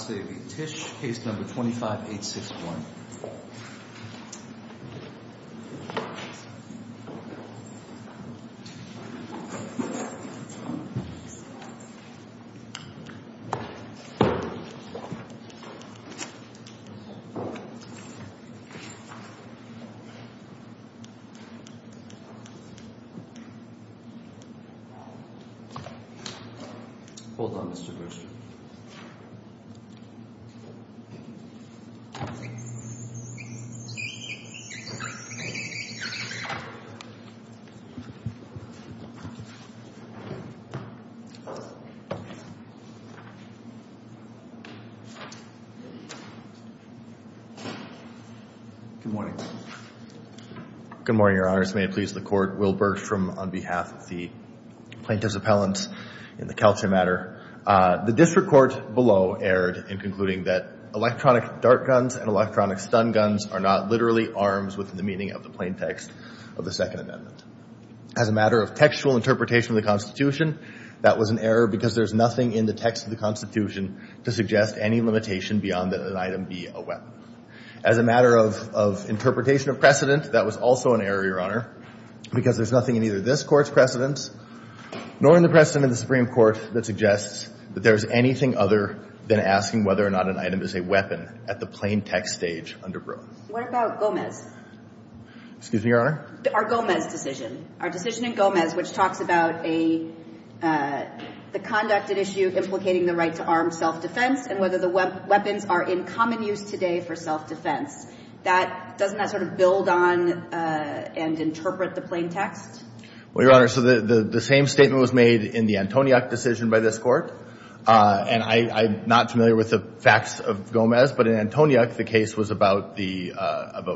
Alce v. Tisch, case number 25861. Hold on, Mr. Grisham. Good morning. Good morning, Your Honors. May it please the Court, Will Burke on behalf of the plaintiffs' appellants in the Calci matter. The District Court below erred in concluding that electronic dart guns and electronic stun guns are not literally arms within the meaning of the plaintext of the Second Amendment. As a matter of textual interpretation of the Constitution, that was an error because there's nothing in the text of the Constitution to suggest any limitation beyond that an item be a weapon. As a matter of interpretation of precedent, that was also an error, Your Honor, because there's nothing in either this Court's precedents nor in the precedent of the Supreme Court that suggests that there's anything other than asking whether or not an item is a weapon at the plaintext stage under Broome. What about Gomez? Excuse me, Your Honor? Our Gomez decision. Our decision in Gomez, which talks about a — the conducted issue implicating the right to armed self-defense and whether the weapons are in common use today for self-defense. That — doesn't that sort of build on and interpret the plaintext? Well, Your Honor, so the same statement was made in the Antoniuk decision by this Court. And I'm not familiar with the facts of Gomez, but in Antoniuk, the case was about the —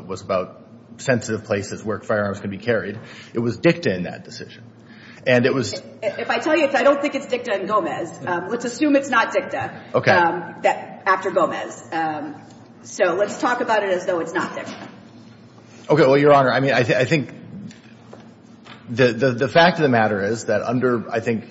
was about sensitive places where firearms could be carried. It was dicta in that decision. And it was — If I tell you, I don't think it's dicta in Gomez. Let's assume it's not dicta. Okay. After Gomez. So let's talk about it as though it's not dicta. Okay. Well, Your Honor, I mean, I think the fact of the matter is that under, I think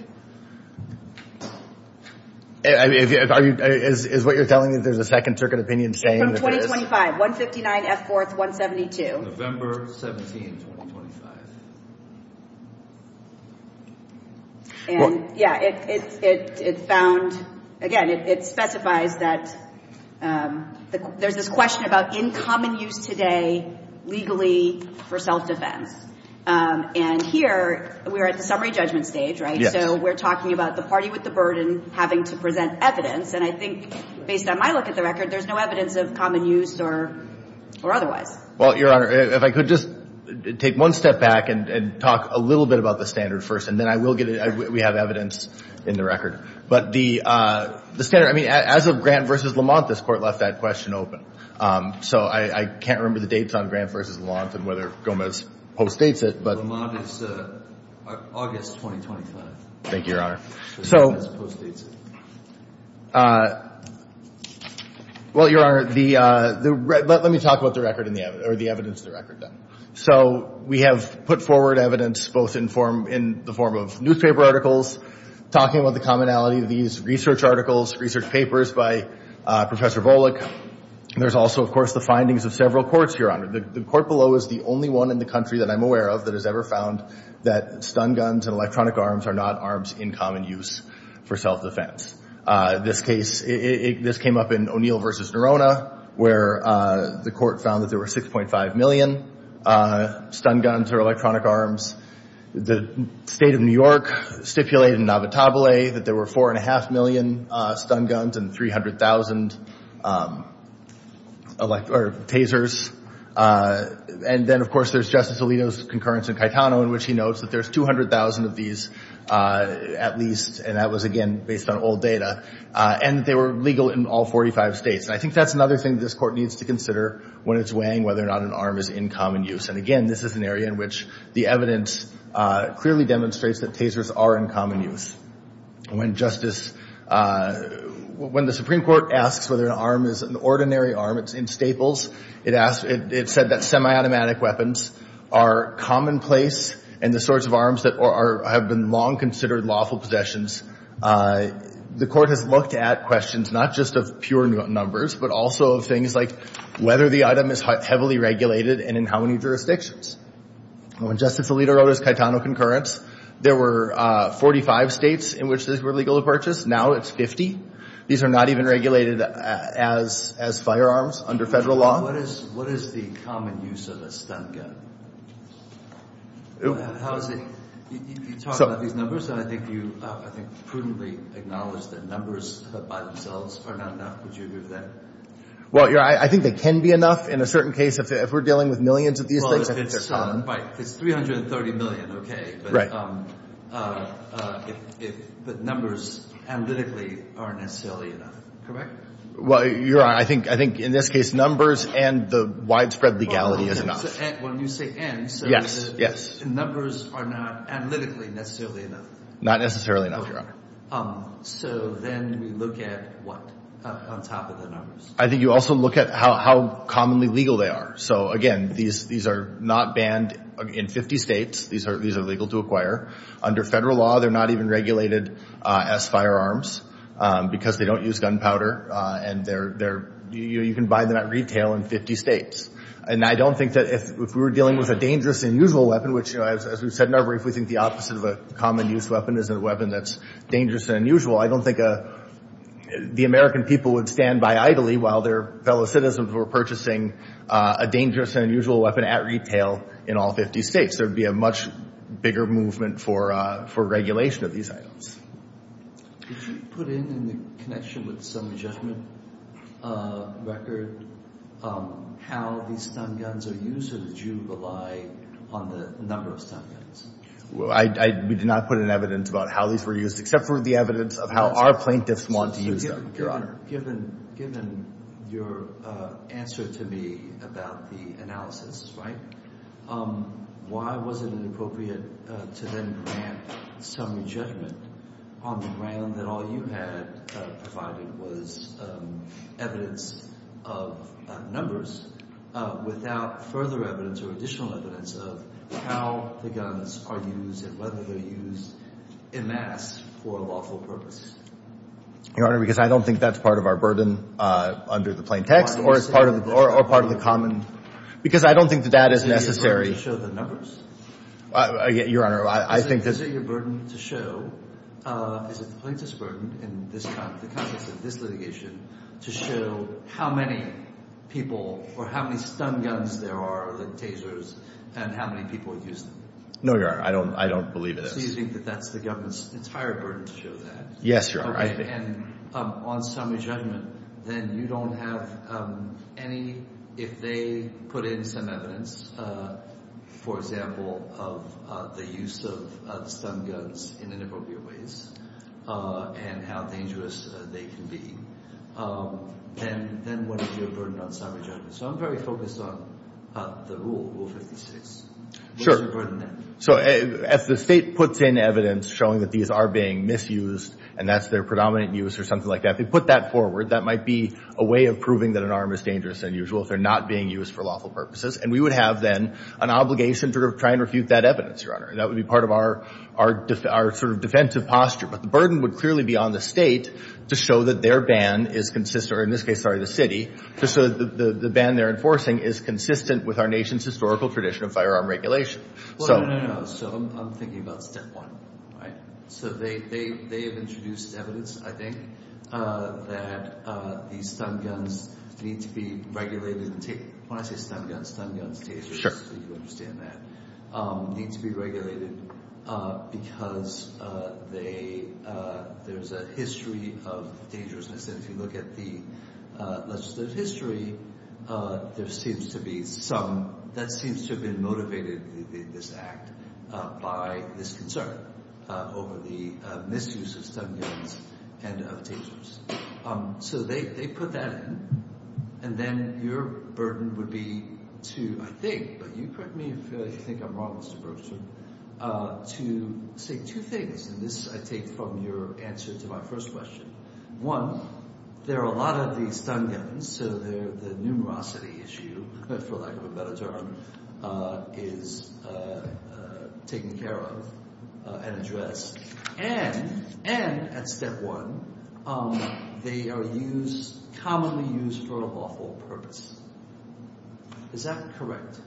— is what you're telling me that there's a second circuit opinion saying that it is? From 2025. 159 F. 4th, 172. November 17, 2025. And, yeah, it found — again, it specifies that there's this question about in common use today legally for self-defense. And here, we're at the summary judgment stage, right? So we're talking about the party with the burden having to present evidence. And I think, based on my look at the record, there's no evidence of common use or otherwise. Well, Your Honor, if I could just take one step back and talk a little bit about the standard first, and then I will get — we have evidence in the record. But the standard — I mean, as of Grant v. Lamont, this Court left that question open. So I can't remember the dates on Grant v. Lamont and whether Gomez postdates it, but — Lamont is August 2025. Thank you, Your Honor. So — Gomez postdates it. Well, Your Honor, the — let me talk about the record in the — or the evidence in the record, then. So we have put forward evidence both in the form of newspaper articles talking about the There's also, of course, the findings of several courts, Your Honor. The court below is the only one in the country that I'm aware of that has ever found that stun guns and electronic arms are not arms in common use for self-defense. This case — this came up in O'Neill v. Nerona, where the court found that there were 6.5 million stun guns or electronic arms. The State of New York stipulated in Navatabile that there were 4.5 million stun guns and 300,000 tasers. And then, of course, there's Justice Alito's concurrence in Caetano in which he notes that there's 200,000 of these at least, and that was, again, based on old data. And they were legal in all 45 states. And I think that's another thing this court needs to consider when it's weighing whether or not an arm is in common use. And again, this is an area in which the evidence clearly demonstrates that tasers are in common use. When Justice — when the Supreme Court asks whether an arm is an ordinary arm, it's in staples. It asked — it said that semiautomatic weapons are commonplace and the sorts of arms that are — have been long considered lawful possessions. The court has looked at questions not just of pure numbers, but also of things like whether the item is heavily regulated and in how many jurisdictions. When Justice Alito wrote his Caetano concurrence, there were 45 states in which this was legal to purchase. Now it's 50. These are not even regulated as firearms under federal law. What is the common use of a stun gun? How is it — you talk about these numbers, and I think you prudently acknowledge that numbers by themselves are not enough. Would you agree with that? Well, I think they can be enough in a certain case. If we're dealing with millions of these things, I think they're common. Well, it's — right. It's 330 million, okay. Right. But if the numbers analytically are necessarily enough, correct? Well, Your Honor, I think in this case numbers and the widespread legality is enough. Well, when you say and — Yes, yes. So the numbers are not analytically necessarily enough. Not necessarily enough, Your Honor. Okay. So then we look at what on top of the numbers? I think you also look at how commonly legal they are. So, again, these are not banned in 50 states. These are legal to acquire. Under federal law, they're not even regulated as firearms because they don't use gunpowder. And they're — you can buy them at retail in 50 states. And I don't think that if we were dealing with a dangerous, unusual weapon, which, as we've said in our brief, we think the opposite of a common-use weapon is a weapon that's dangerous and unusual, I don't think the American people would stand by idly while their fellow citizens were purchasing a dangerous and unusual weapon at retail in all 50 states. There would be a much bigger movement for regulation of these items. Did you put in in the connection with some judgment record how these stun guns are used, or did you rely on the number of stun guns? We did not put in evidence about how these were used, except for the evidence of how our plaintiffs want to use them, Your Honor. Given your answer to me about the analysis, right, why was it inappropriate to then grant some judgment on the ground that all you had provided was evidence of numbers without further evidence or additional evidence of how the guns are used and whether they're used en masse for a lawful purpose? Your Honor, because I don't think that's part of our burden under the plaintext, or part of the common — because I don't think that that is necessary. Is it your burden to show the numbers? Your Honor, I think that — Is it your burden to show — is it the plaintiff's burden in the context of this litigation to show how many people or how many stun guns there are, the tasers, and how many people use them? No, Your Honor, I don't believe it is. So you think that that's the government's entire burden to show that? Yes, Your Honor, I think. And on summary judgment, then you don't have any — if they put in some evidence, for example, of the use of stun guns in inappropriate ways and how dangerous they can be, then what is your burden on summary judgment? So I'm very focused on the rule, Rule 56. Sure. What is your burden then? So as the state puts in evidence showing that these are being misused and that's their predominant use or something like that, they put that forward, that might be a way of proving that an arm is dangerous than usual if they're not being used for lawful purposes. And we would have then an obligation to try and refute that evidence, Your Honor. That would be part of our sort of defensive posture. But the burden would clearly be on the state to show that their ban is consistent — or in this case, sorry, the city — to show that the ban they're enforcing is consistent with our nation's historical tradition of firearm regulation. Well, no, no, no. So I'm thinking about step one, right? So they have introduced evidence, I think, that these stun guns need to be regulated. When I say stun guns, stun guns, dangerous. Sure. You understand that. Need to be regulated because there's a history of dangerousness. And if you look at the legislative history, there seems to be some — that seems to have been motivated in this act by this concern over the misuse of stun guns and of dangerousness. So they put that in. And then your burden would be to — I think, but you correct me if you think I'm wrong, Mr. Berkshire — to say two things, and this I take from your answer to my first question. One, there are a lot of these stun guns. So the numerosity issue, for lack of a better term, is taken care of and addressed. And at step one, they are used — commonly used for a lawful purpose. Is that correct?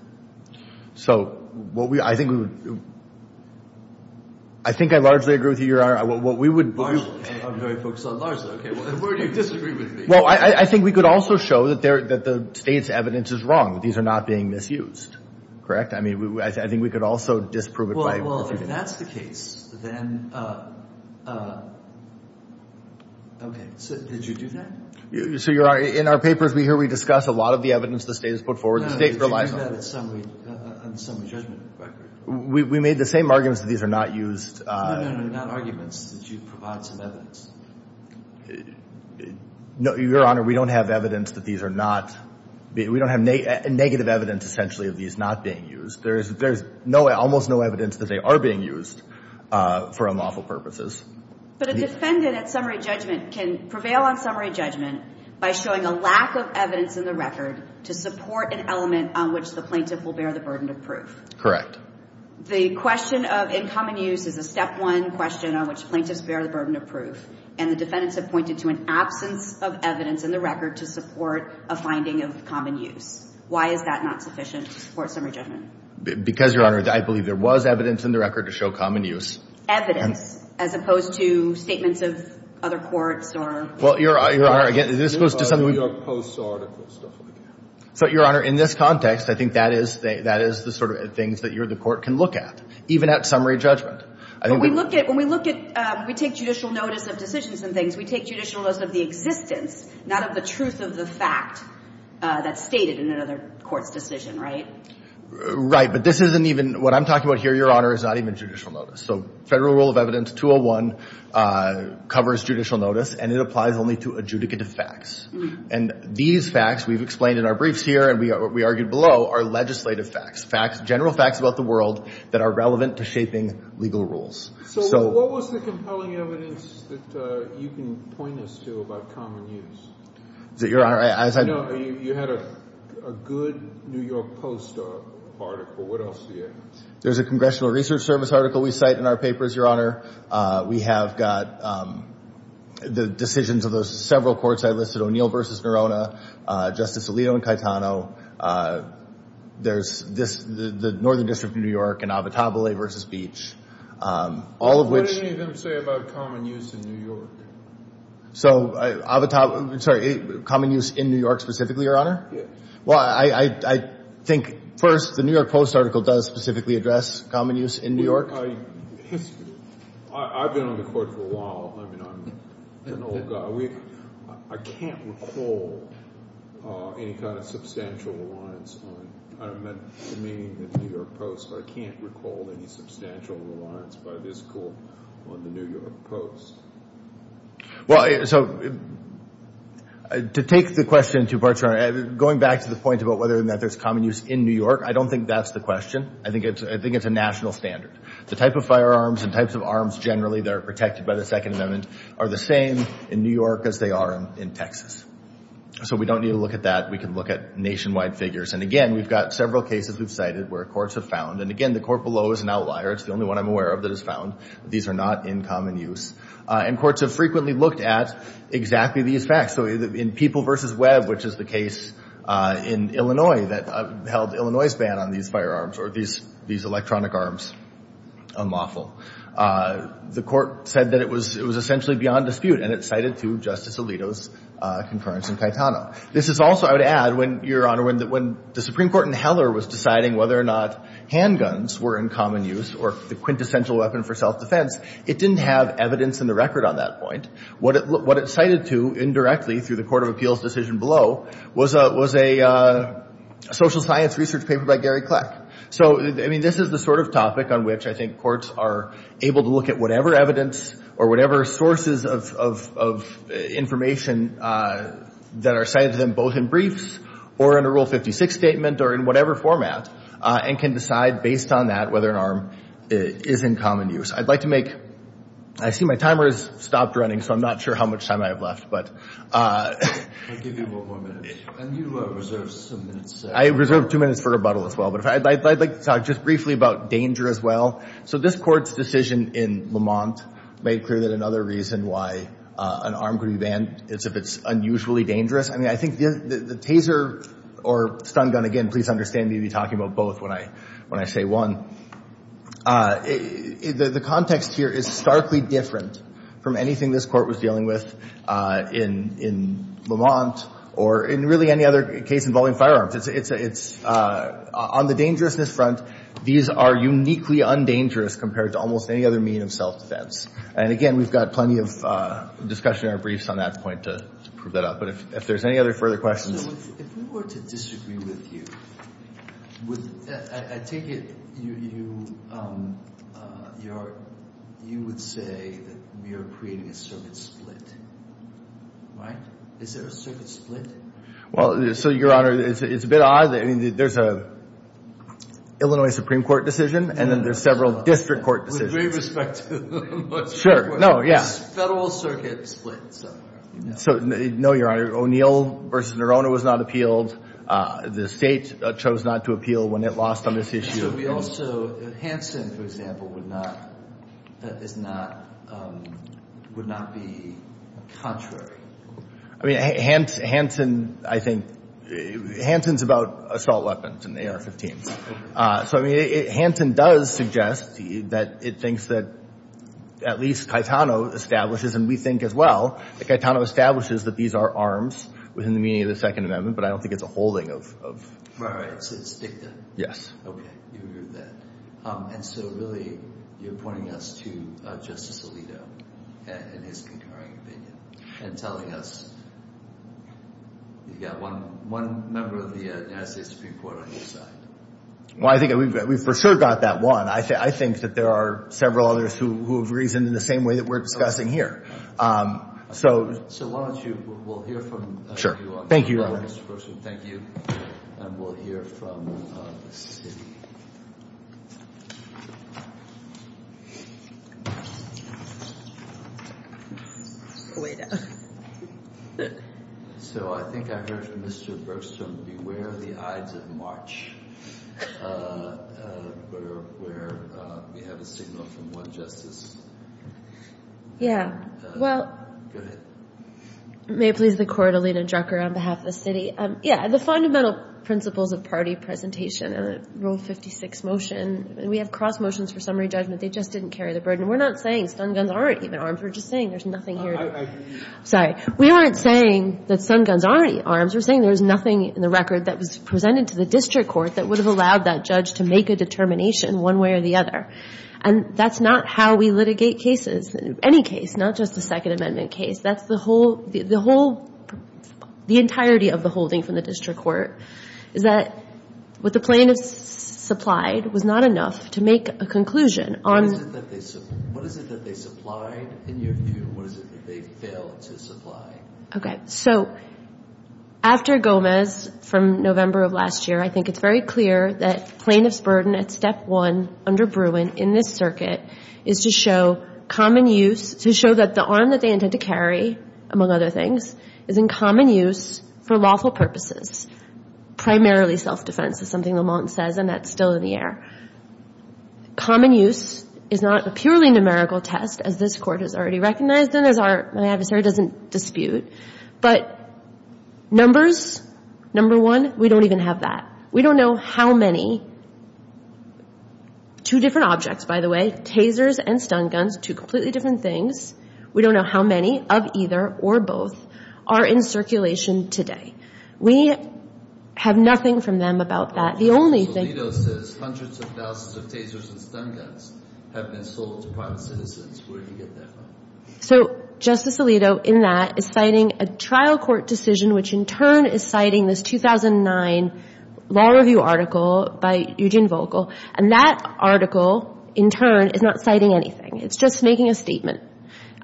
So what we — I think we would — I think I largely agree with you, Your Honor. What we would — Largely. I'm very focused on largely. Okay. Where do you disagree with me? Well, I think we could also show that the State's evidence is wrong, that these are not being misused. Correct? I mean, I think we could also disprove it by — Well, if that's the case, then — okay. Did you do that? So you're — in our papers, we hear we discuss a lot of the evidence the State has put forward. The State relies on it. No, no. Did you do that on the summary judgment record? We made the same arguments that these are not used. No, no, no. Not arguments. Did you provide some evidence? No, Your Honor. We don't have evidence that these are not — we don't have negative evidence, essentially, of these not being used. There's almost no evidence that they are being used for unlawful purposes. But a defendant at summary judgment can prevail on summary judgment by showing a lack of evidence in the record to support an element on which the plaintiff will bear the burden of proof. Correct. The question of in common use is a step one question on which plaintiffs bear the burden of proof. And the defendants have pointed to an absence of evidence in the record to support a finding of common use. Why is that not sufficient to support summary judgment? Because, Your Honor, I believe there was evidence in the record to show common use. Evidence, as opposed to statements of other courts or — Well, Your Honor, again, this goes to something we — New York Post's article, stuff like that. So, Your Honor, in this context, I think that is the sort of things that you or the court can look at, even at summary judgment. But we look at — when we look at — we take judicial notice of decisions and things, we take judicial notice of the existence, not of the truth of the fact that's stated in another court's decision, right? Right, but this isn't even — what I'm talking about here, Your Honor, is not even judicial notice. So Federal Rule of Evidence 201 covers judicial notice, and it applies only to adjudicative facts. And these facts we've explained in our briefs here and we argued below are legislative facts, facts — general facts about the world that are relevant to shaping legal rules. So what was the compelling evidence that you can point us to about common use? Is it, Your Honor — No, you had a good New York Post article. What else do you have? There's a Congressional Research Service article we cite in our papers, Your Honor. We have got the decisions of those several courts I listed, O'Neill v. Nerona, Justice Alito and Caetano. There's this — the Northern District of New York and Avotabile v. Beach, all of which — What did any of them say about common use in New York? So Avotabile — sorry, common use in New York specifically, Your Honor? Yes. Well, I think, first, the New York Post article does specifically address common use in New York. I've been on the court for a while. I mean, I'm an old guy. I can't recall any kind of substantial reliance on — I don't mean the New York Post, but I can't recall any substantial reliance by this court on the New York Post. Well, so to take the question in two parts, Your Honor, going back to the point about whether or not there's common use in New York, I don't think that's the question. I think it's a national standard. The type of firearms and types of arms generally that are protected by the Second Amendment are the same in New York as they are in Texas. So we don't need to look at that. We can look at nationwide figures. And, again, we've got several cases we've cited where courts have found — and, again, the court below is an outlier. It's the only one I'm aware of that has found that these are not in common use. And courts have frequently looked at exactly these facts. So in People v. Webb, which is the case in Illinois that held Illinois' ban on these firearms or these electronic arms unlawful, the court said that it was essentially beyond dispute, and it cited to Justice Alito's concurrence in Caetano. This is also, I would add, Your Honor, when the Supreme Court in Heller was deciding whether or not handguns were in common use or the quintessential weapon for self-defense, it didn't have evidence in the record on that point. What it cited to indirectly through the court of appeals decision below was a social science research paper by Gary Kleck. So, I mean, this is the sort of topic on which I think courts are able to look at whatever evidence or whatever sources of information that are cited to them both in briefs or in a Rule 56 statement or in whatever format and can decide based on that whether an arm is in common use. I'd like to make—I see my timer has stopped running, so I'm not sure how much time I have left. I'll give you one more minute. And you reserve some minutes. I reserve two minutes for rebuttal as well. But I'd like to talk just briefly about danger as well. So this court's decision in Lamont made clear that another reason why an arm could be banned is if it's unusually dangerous. I mean, I think the taser or stun gun—again, please understand me talking about both when I say one. The context here is starkly different from anything this court was dealing with in Lamont or in really any other case involving firearms. On the dangerousness front, these are uniquely undangerous compared to almost any other mean of self-defense. And again, we've got plenty of discussion in our briefs on that point to prove that out. But if there's any other further questions— If we were to disagree with you, I take it you would say that we are creating a circuit split, right? Is there a circuit split? Well, so, Your Honor, it's a bit odd. I mean, there's an Illinois Supreme Court decision, and then there's several district court decisions. With great respect to the Illinois Supreme Court. Sure. No, yes. Federal circuit split somewhere. So, no, Your Honor. O'Neill v. Nerone was not appealed. The State chose not to appeal when it lost on this issue. So we also—Hanson, for example, would not—is not—would not be contrary. I mean, Hanson, I think—Hanson's about assault weapons and AR-15s. So, I mean, Hanson does suggest that it thinks that at least Caetano establishes, and we think as well that Caetano establishes that these are arms within the meaning of the Second Amendment, but I don't think it's a holding of— Right, right. So it's dicta. Yes. Okay. You heard that. And so, really, you're pointing us to Justice Alito and his concurring opinion and telling us you've got one member of the United States Supreme Court on your side. Well, I think we've for sure got that one. I think that there are several others who have reasoned in the same way that we're discussing here. So— So why don't you—we'll hear from you on that. Sure. Thank you, Your Honor. Mr. Brookstone, thank you. And we'll hear from the city. So I think I heard from Mr. Brookstone, beware the ides of March. Where we have a signal from one justice. Yeah. Well— Go ahead. May it please the Court, Alita Drucker on behalf of the city. Yeah, the fundamental principles of party presentation in a Rule 56 motion, we have cross motions for summary judgment. They just didn't carry the burden. We're not saying stun guns aren't even arms. We're just saying there's nothing here— I hear you. Sorry. We aren't saying that stun guns aren't arms. We're saying there's nothing in the record that was presented to the district court that would have allowed that judge to make a determination one way or the other. And that's not how we litigate cases. Any case, not just the Second Amendment case. That's the whole—the entirety of the holding from the district court is that what the plaintiffs supplied was not enough to make a conclusion on— What is it that they supplied in your view? What is it that they failed to supply? Okay. So after Gomez from November of last year, I think it's very clear that plaintiff's burden at step one under Bruin in this circuit is to show common use—to show that the arm that they intend to carry, among other things, is in common use for lawful purposes, primarily self-defense, is something Lamont says, and that's still in the air. Common use is not a purely numerical test, as this Court has already recognized, and my adversary doesn't dispute. But numbers, number one, we don't even have that. We don't know how many. Two different objects, by the way. Tasers and stun guns, two completely different things. We don't know how many of either or both are in circulation today. We have nothing from them about that. The only thing— Hundreds of thousands of tasers and stun guns have been sold to private citizens. Where do you get that from? So Justice Alito, in that, is citing a trial court decision, which in turn is citing this 2009 law review article by Eugene Volkel, and that article, in turn, is not citing anything. It's just making a statement.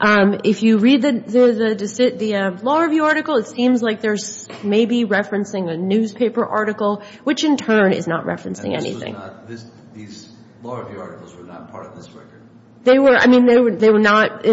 If you read the law review article, it seems like there's maybe referencing a newspaper article, which in turn is not referencing anything. And this was not—these law review articles were not part of this record? They were—I mean, they were not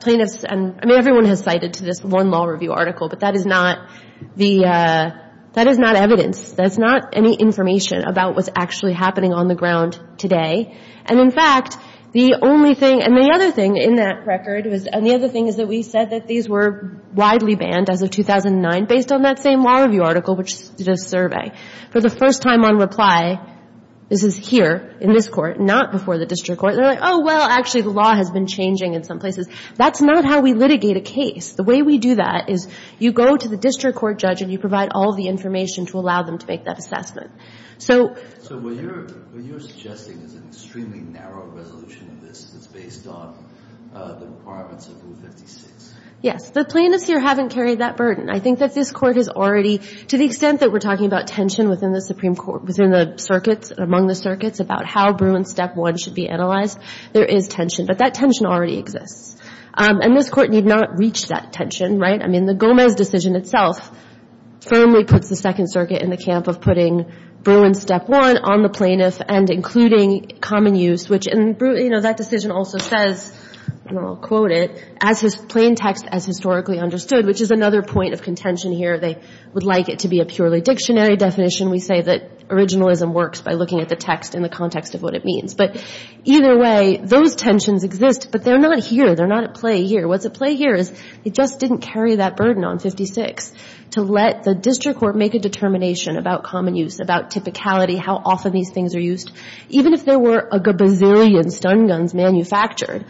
plaintiffs— I mean, everyone has cited to this one law review article, but that is not the—that is not evidence. That's not any information about what's actually happening on the ground today. And, in fact, the only thing—and the other thing in that record was— and the other thing is that we said that these were widely banned as of 2009 based on that same law review article, which did a survey. For the first time on reply, this is here in this Court, not before the district court. They're like, oh, well, actually the law has been changing in some places. That's not how we litigate a case. The way we do that is you go to the district court judge and you provide all the information to allow them to make that assessment. So— So what you're suggesting is an extremely narrow resolution of this that's based on the requirements of Rule 56? Yes. The plaintiffs here haven't carried that burden. I think that this Court has already—to the extent that we're talking about tension within the Supreme Court, within the circuits, among the circuits, about how Bruin Step 1 should be analyzed, there is tension. But that tension already exists. And this Court need not reach that tension, right? I mean, the Gomez decision itself firmly puts the Second Circuit in the camp of putting Bruin Step 1 on the plaintiff and including common use, which— and, you know, that decision also says, and I'll quote it, as historically understood, which is another point of contention here. They would like it to be a purely dictionary definition. We say that originalism works by looking at the text in the context of what it means. But either way, those tensions exist, but they're not here. They're not at play here. What's at play here is they just didn't carry that burden on 56 to let the district court make a determination about common use, about typicality, how often these things are used. Even if there were a gazillion stun guns manufactured,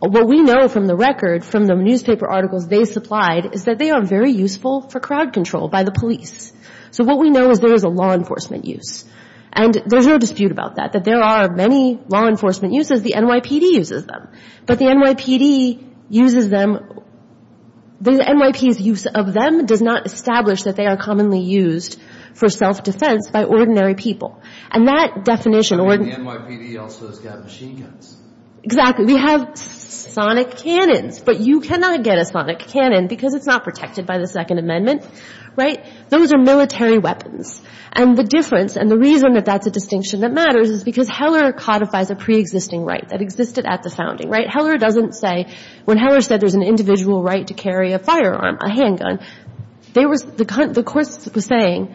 what we know from the record from the newspaper articles they supplied is that they are very useful for crowd control by the police. So what we know is there is a law enforcement use. And there's no dispute about that, that there are many law enforcement uses. The NYPD uses them. But the NYPD uses them—the NYPD's use of them does not establish that they are commonly used for self-defense by ordinary people. And that definition— And the NYPD also has got machine guns. Exactly. We have sonic cannons. But you cannot get a sonic cannon because it's not protected by the Second Amendment. Right? Those are military weapons. And the difference and the reason that that's a distinction that matters is because Heller codifies a preexisting right that existed at the founding. Right? Heller doesn't say—when Heller said there's an individual right to carry a firearm, a handgun, there was—the court was saying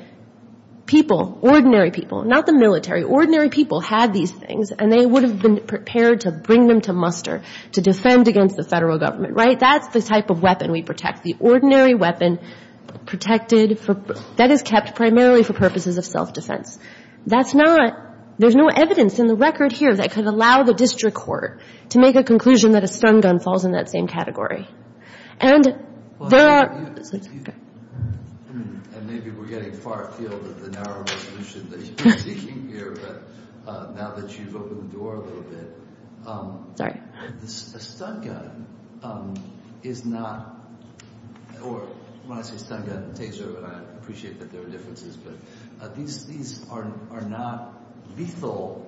people, ordinary people, not the military. Ordinary people had these things and they would have been prepared to bring them to muster to defend against the Federal Government. Right? That's the type of weapon we protect. The ordinary weapon protected for—that is kept primarily for purposes of self-defense. That's not—there's no evidence in the record here that could allow the district court to make a conclusion that a stun gun falls in that same category. And there are— And maybe we're getting far afield of the narrow resolution that you've been seeking here, but now that you've opened the door a little bit, a stun gun is not— or when I say stun gun, I appreciate that there are differences, but these are not lethal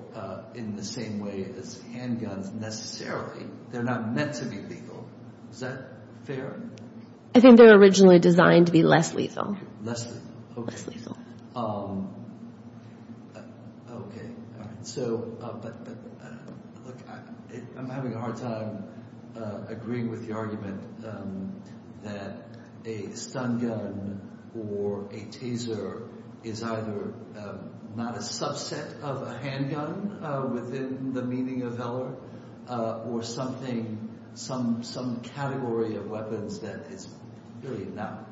in the same way as handguns necessarily. They're not meant to be lethal. Is that fair? I think they were originally designed to be less lethal. Less lethal. Less lethal. Okay. So, but look, I'm having a hard time agreeing with the argument that a stun gun or a taser is either not a subset of a handgun within the meaning of valor or something, some category of weapons that is really not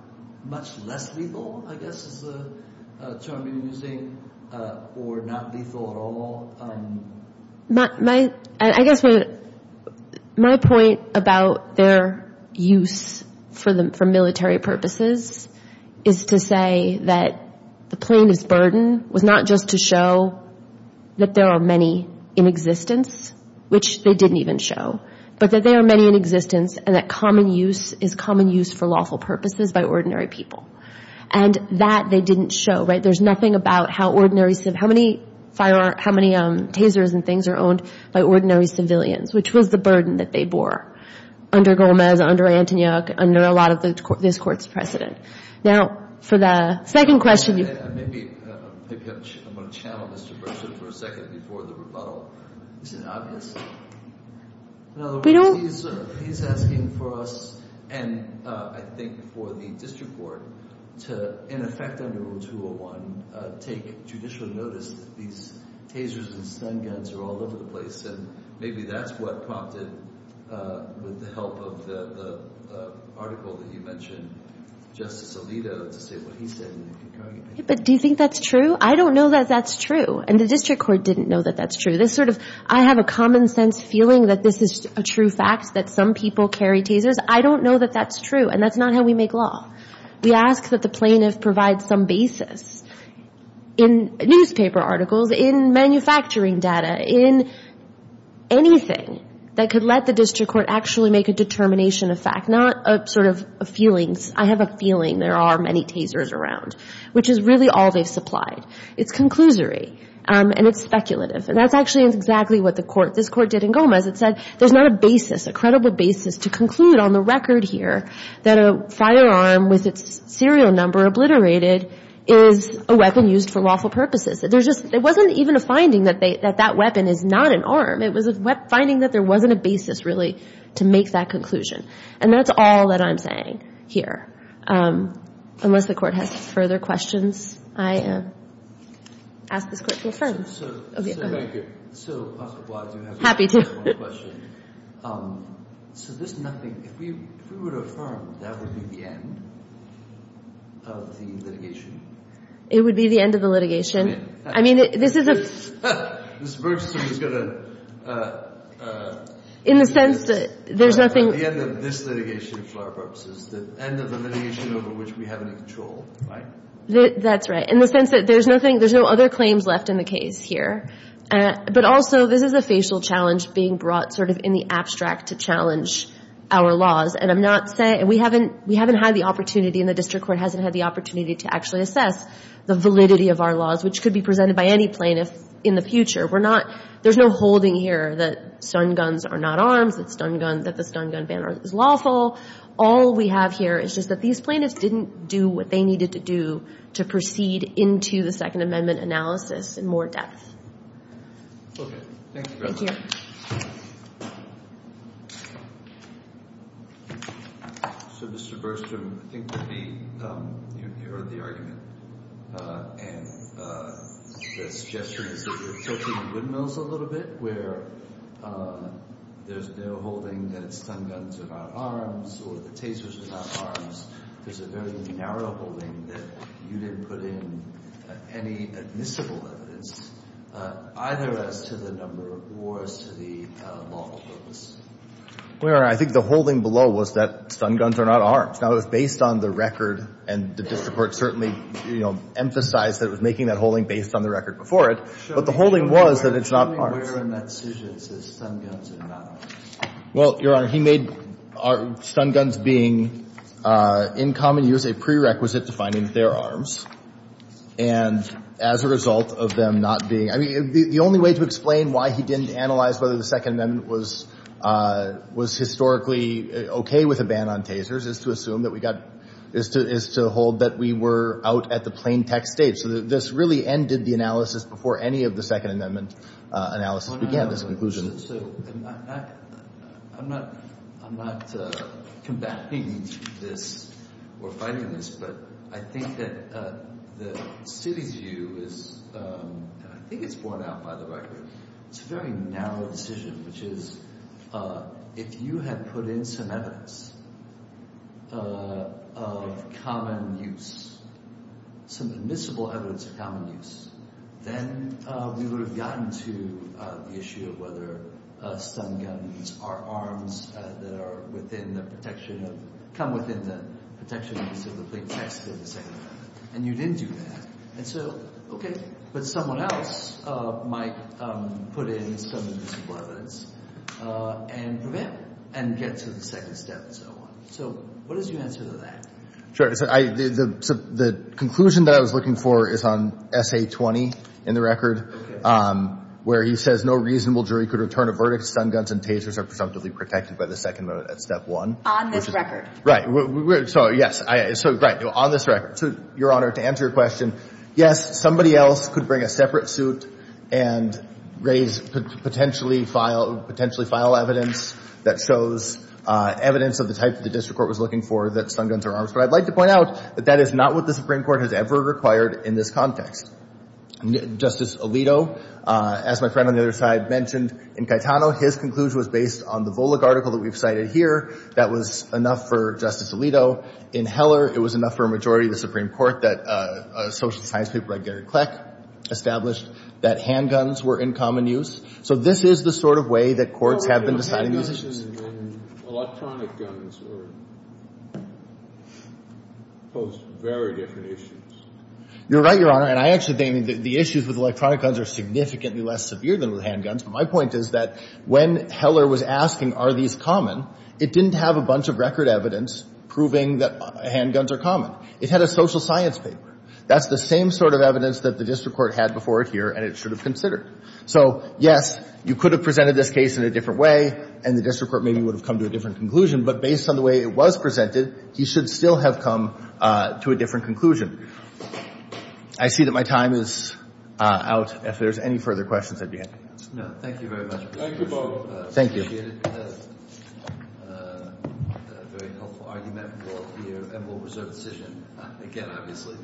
much less lethal, I guess is the term you're using, or not lethal at all. My point about their use for military purposes is to say that the plaintiff's burden was not just to show that there are many in existence, which they didn't even show, but that there are many in existence and that common use is common use for lawful purposes by ordinary people. And that they didn't show, right? There's nothing about how ordinary— how many tasers and things are owned by ordinary civilians, which was the burden that they bore under Gomez, under Antonyuk, under a lot of this Court's precedent. Now, for the second question— Maybe I'm going to channel Mr. Berger for a second before the rebuttal. Isn't it obvious? In other words, he's asking for us, and I think for the district court, to, in effect under Rule 201, take judicial notice that these tasers and stun guns are all over the place, and maybe that's what prompted, with the help of the article that you mentioned, Justice Alito, to say what he said in the concurring opinion. But do you think that's true? I don't know that that's true, and the district court didn't know that that's true. This sort of, I have a common-sense feeling that this is a true fact, that some people carry tasers. I don't know that that's true, and that's not how we make law. We ask that the plaintiff provide some basis in newspaper articles, in manufacturing data, in anything that could let the district court actually make a determination of fact, and that's not a sort of a feeling. I have a feeling there are many tasers around, which is really all they've supplied. It's conclusory, and it's speculative, and that's actually exactly what this court did in Gomez. It said there's not a basis, a credible basis to conclude on the record here that a firearm with its serial number obliterated is a weapon used for lawful purposes. It wasn't even a finding that that weapon is not an arm. It was a finding that there wasn't a basis, really, to make that conclusion, and that's all that I'm saying here. Unless the Court has further questions, I ask this Court to affirm. Okay, go ahead. So, thank you. So, Officer Bly, I do have one question. So this is nothing. If we were to affirm, that would be the end of the litigation? It would be the end of the litigation. I mean, this is a – Ms. Bergstrom is going to – In the sense that there's nothing – The end of this litigation for our purposes, the end of the litigation over which we have any control, right? That's right. In the sense that there's nothing – there's no other claims left in the case here. But also, this is a facial challenge being brought sort of in the abstract to challenge our laws, and I'm not saying – we haven't had the opportunity, and the District Court hasn't had the opportunity to actually assess the validity of our laws, which could be presented by any plaintiff in the future. We're not – there's no holding here that stun guns are not arms, that the stun gun ban is lawful. All we have here is just that these plaintiffs didn't do what they needed to do to proceed into the Second Amendment analysis in more depth. Okay. Thank you very much. Thank you. Thank you. So, Mr. Bergstrom, I think maybe you heard the argument, and the suggestion is that you're tilting the windmills a little bit where there's no holding that stun guns are not arms or the tasers are not arms. There's a very narrow holding that you didn't put in any admissible evidence, either as to the number or as to the lawful purpose. Your Honor, I think the holding below was that stun guns are not arms. Now, it was based on the record, and the District Court certainly emphasized that it was making that holding based on the record before it, but the holding was that it's not arms. Show me where in that suggestion it says stun guns are not arms. Well, Your Honor, he made stun guns being in common use a prerequisite to finding they're arms, and as a result of them not being, I mean, the only way to explain why he didn't analyze whether the Second Amendment was historically okay with a ban on tasers is to assume that we got, is to hold that we were out at the plain text stage. So, this really ended the analysis before any of the Second Amendment analysis began, this conclusion. So, I'm not combating this or fighting this, but I think that the city's view is, and I think it's borne out by the record, it's a very narrow decision, which is if you had put in some evidence of common use, some admissible evidence of common use, then we would have gotten to the issue of whether stun guns are arms that are within the protection of, come within the protection of the plain text of the Second Amendment. And you didn't do that. And so, okay, but someone else might put in some of this evidence and prevent it and get to the second step and so on. So, what is your answer to that? Sure. So, the conclusion that I was looking for is on S.A. 20 in the record, where he says no reasonable jury could return a verdict if stun guns and tasers are presumptively protected by the Second Amendment at Step 1. On this record? Right. So, yes. So, right. On this record. So, Your Honor, to answer your question, yes, somebody else could bring a separate suit and raise potentially file evidence that shows evidence of the type that the district court was looking for, that stun guns are arms. But I'd like to point out that that is not what the Supreme Court has ever required in this context. Justice Alito, as my friend on the other side mentioned, in Caetano, his conclusion was based on the Volokh article that we've cited here. That was enough for Justice Alito. In Heller, it was enough for a majority of the Supreme Court that a social science paper by Gary Kleck established that handguns were in common use. So this is the sort of way that courts have been deciding these issues. Handguns and electronic guns pose very different issues. You're right, Your Honor. And I actually think the issues with electronic guns are significantly less severe than with handguns. My point is that when Heller was asking are these common, it didn't have a bunch of record evidence proving that handguns are common. It had a social science paper. That's the same sort of evidence that the district court had before it here, and it should have considered. So, yes, you could have presented this case in a different way, and the district court maybe would have come to a different conclusion. But based on the way it was presented, he should still have come to a different conclusion. I see that my time is out. If there's any further questions, I'd be happy. No, thank you very much. Thank you both. Thank you. I appreciate it. It was a very helpful argument, and we'll reserve the decision again, obviously.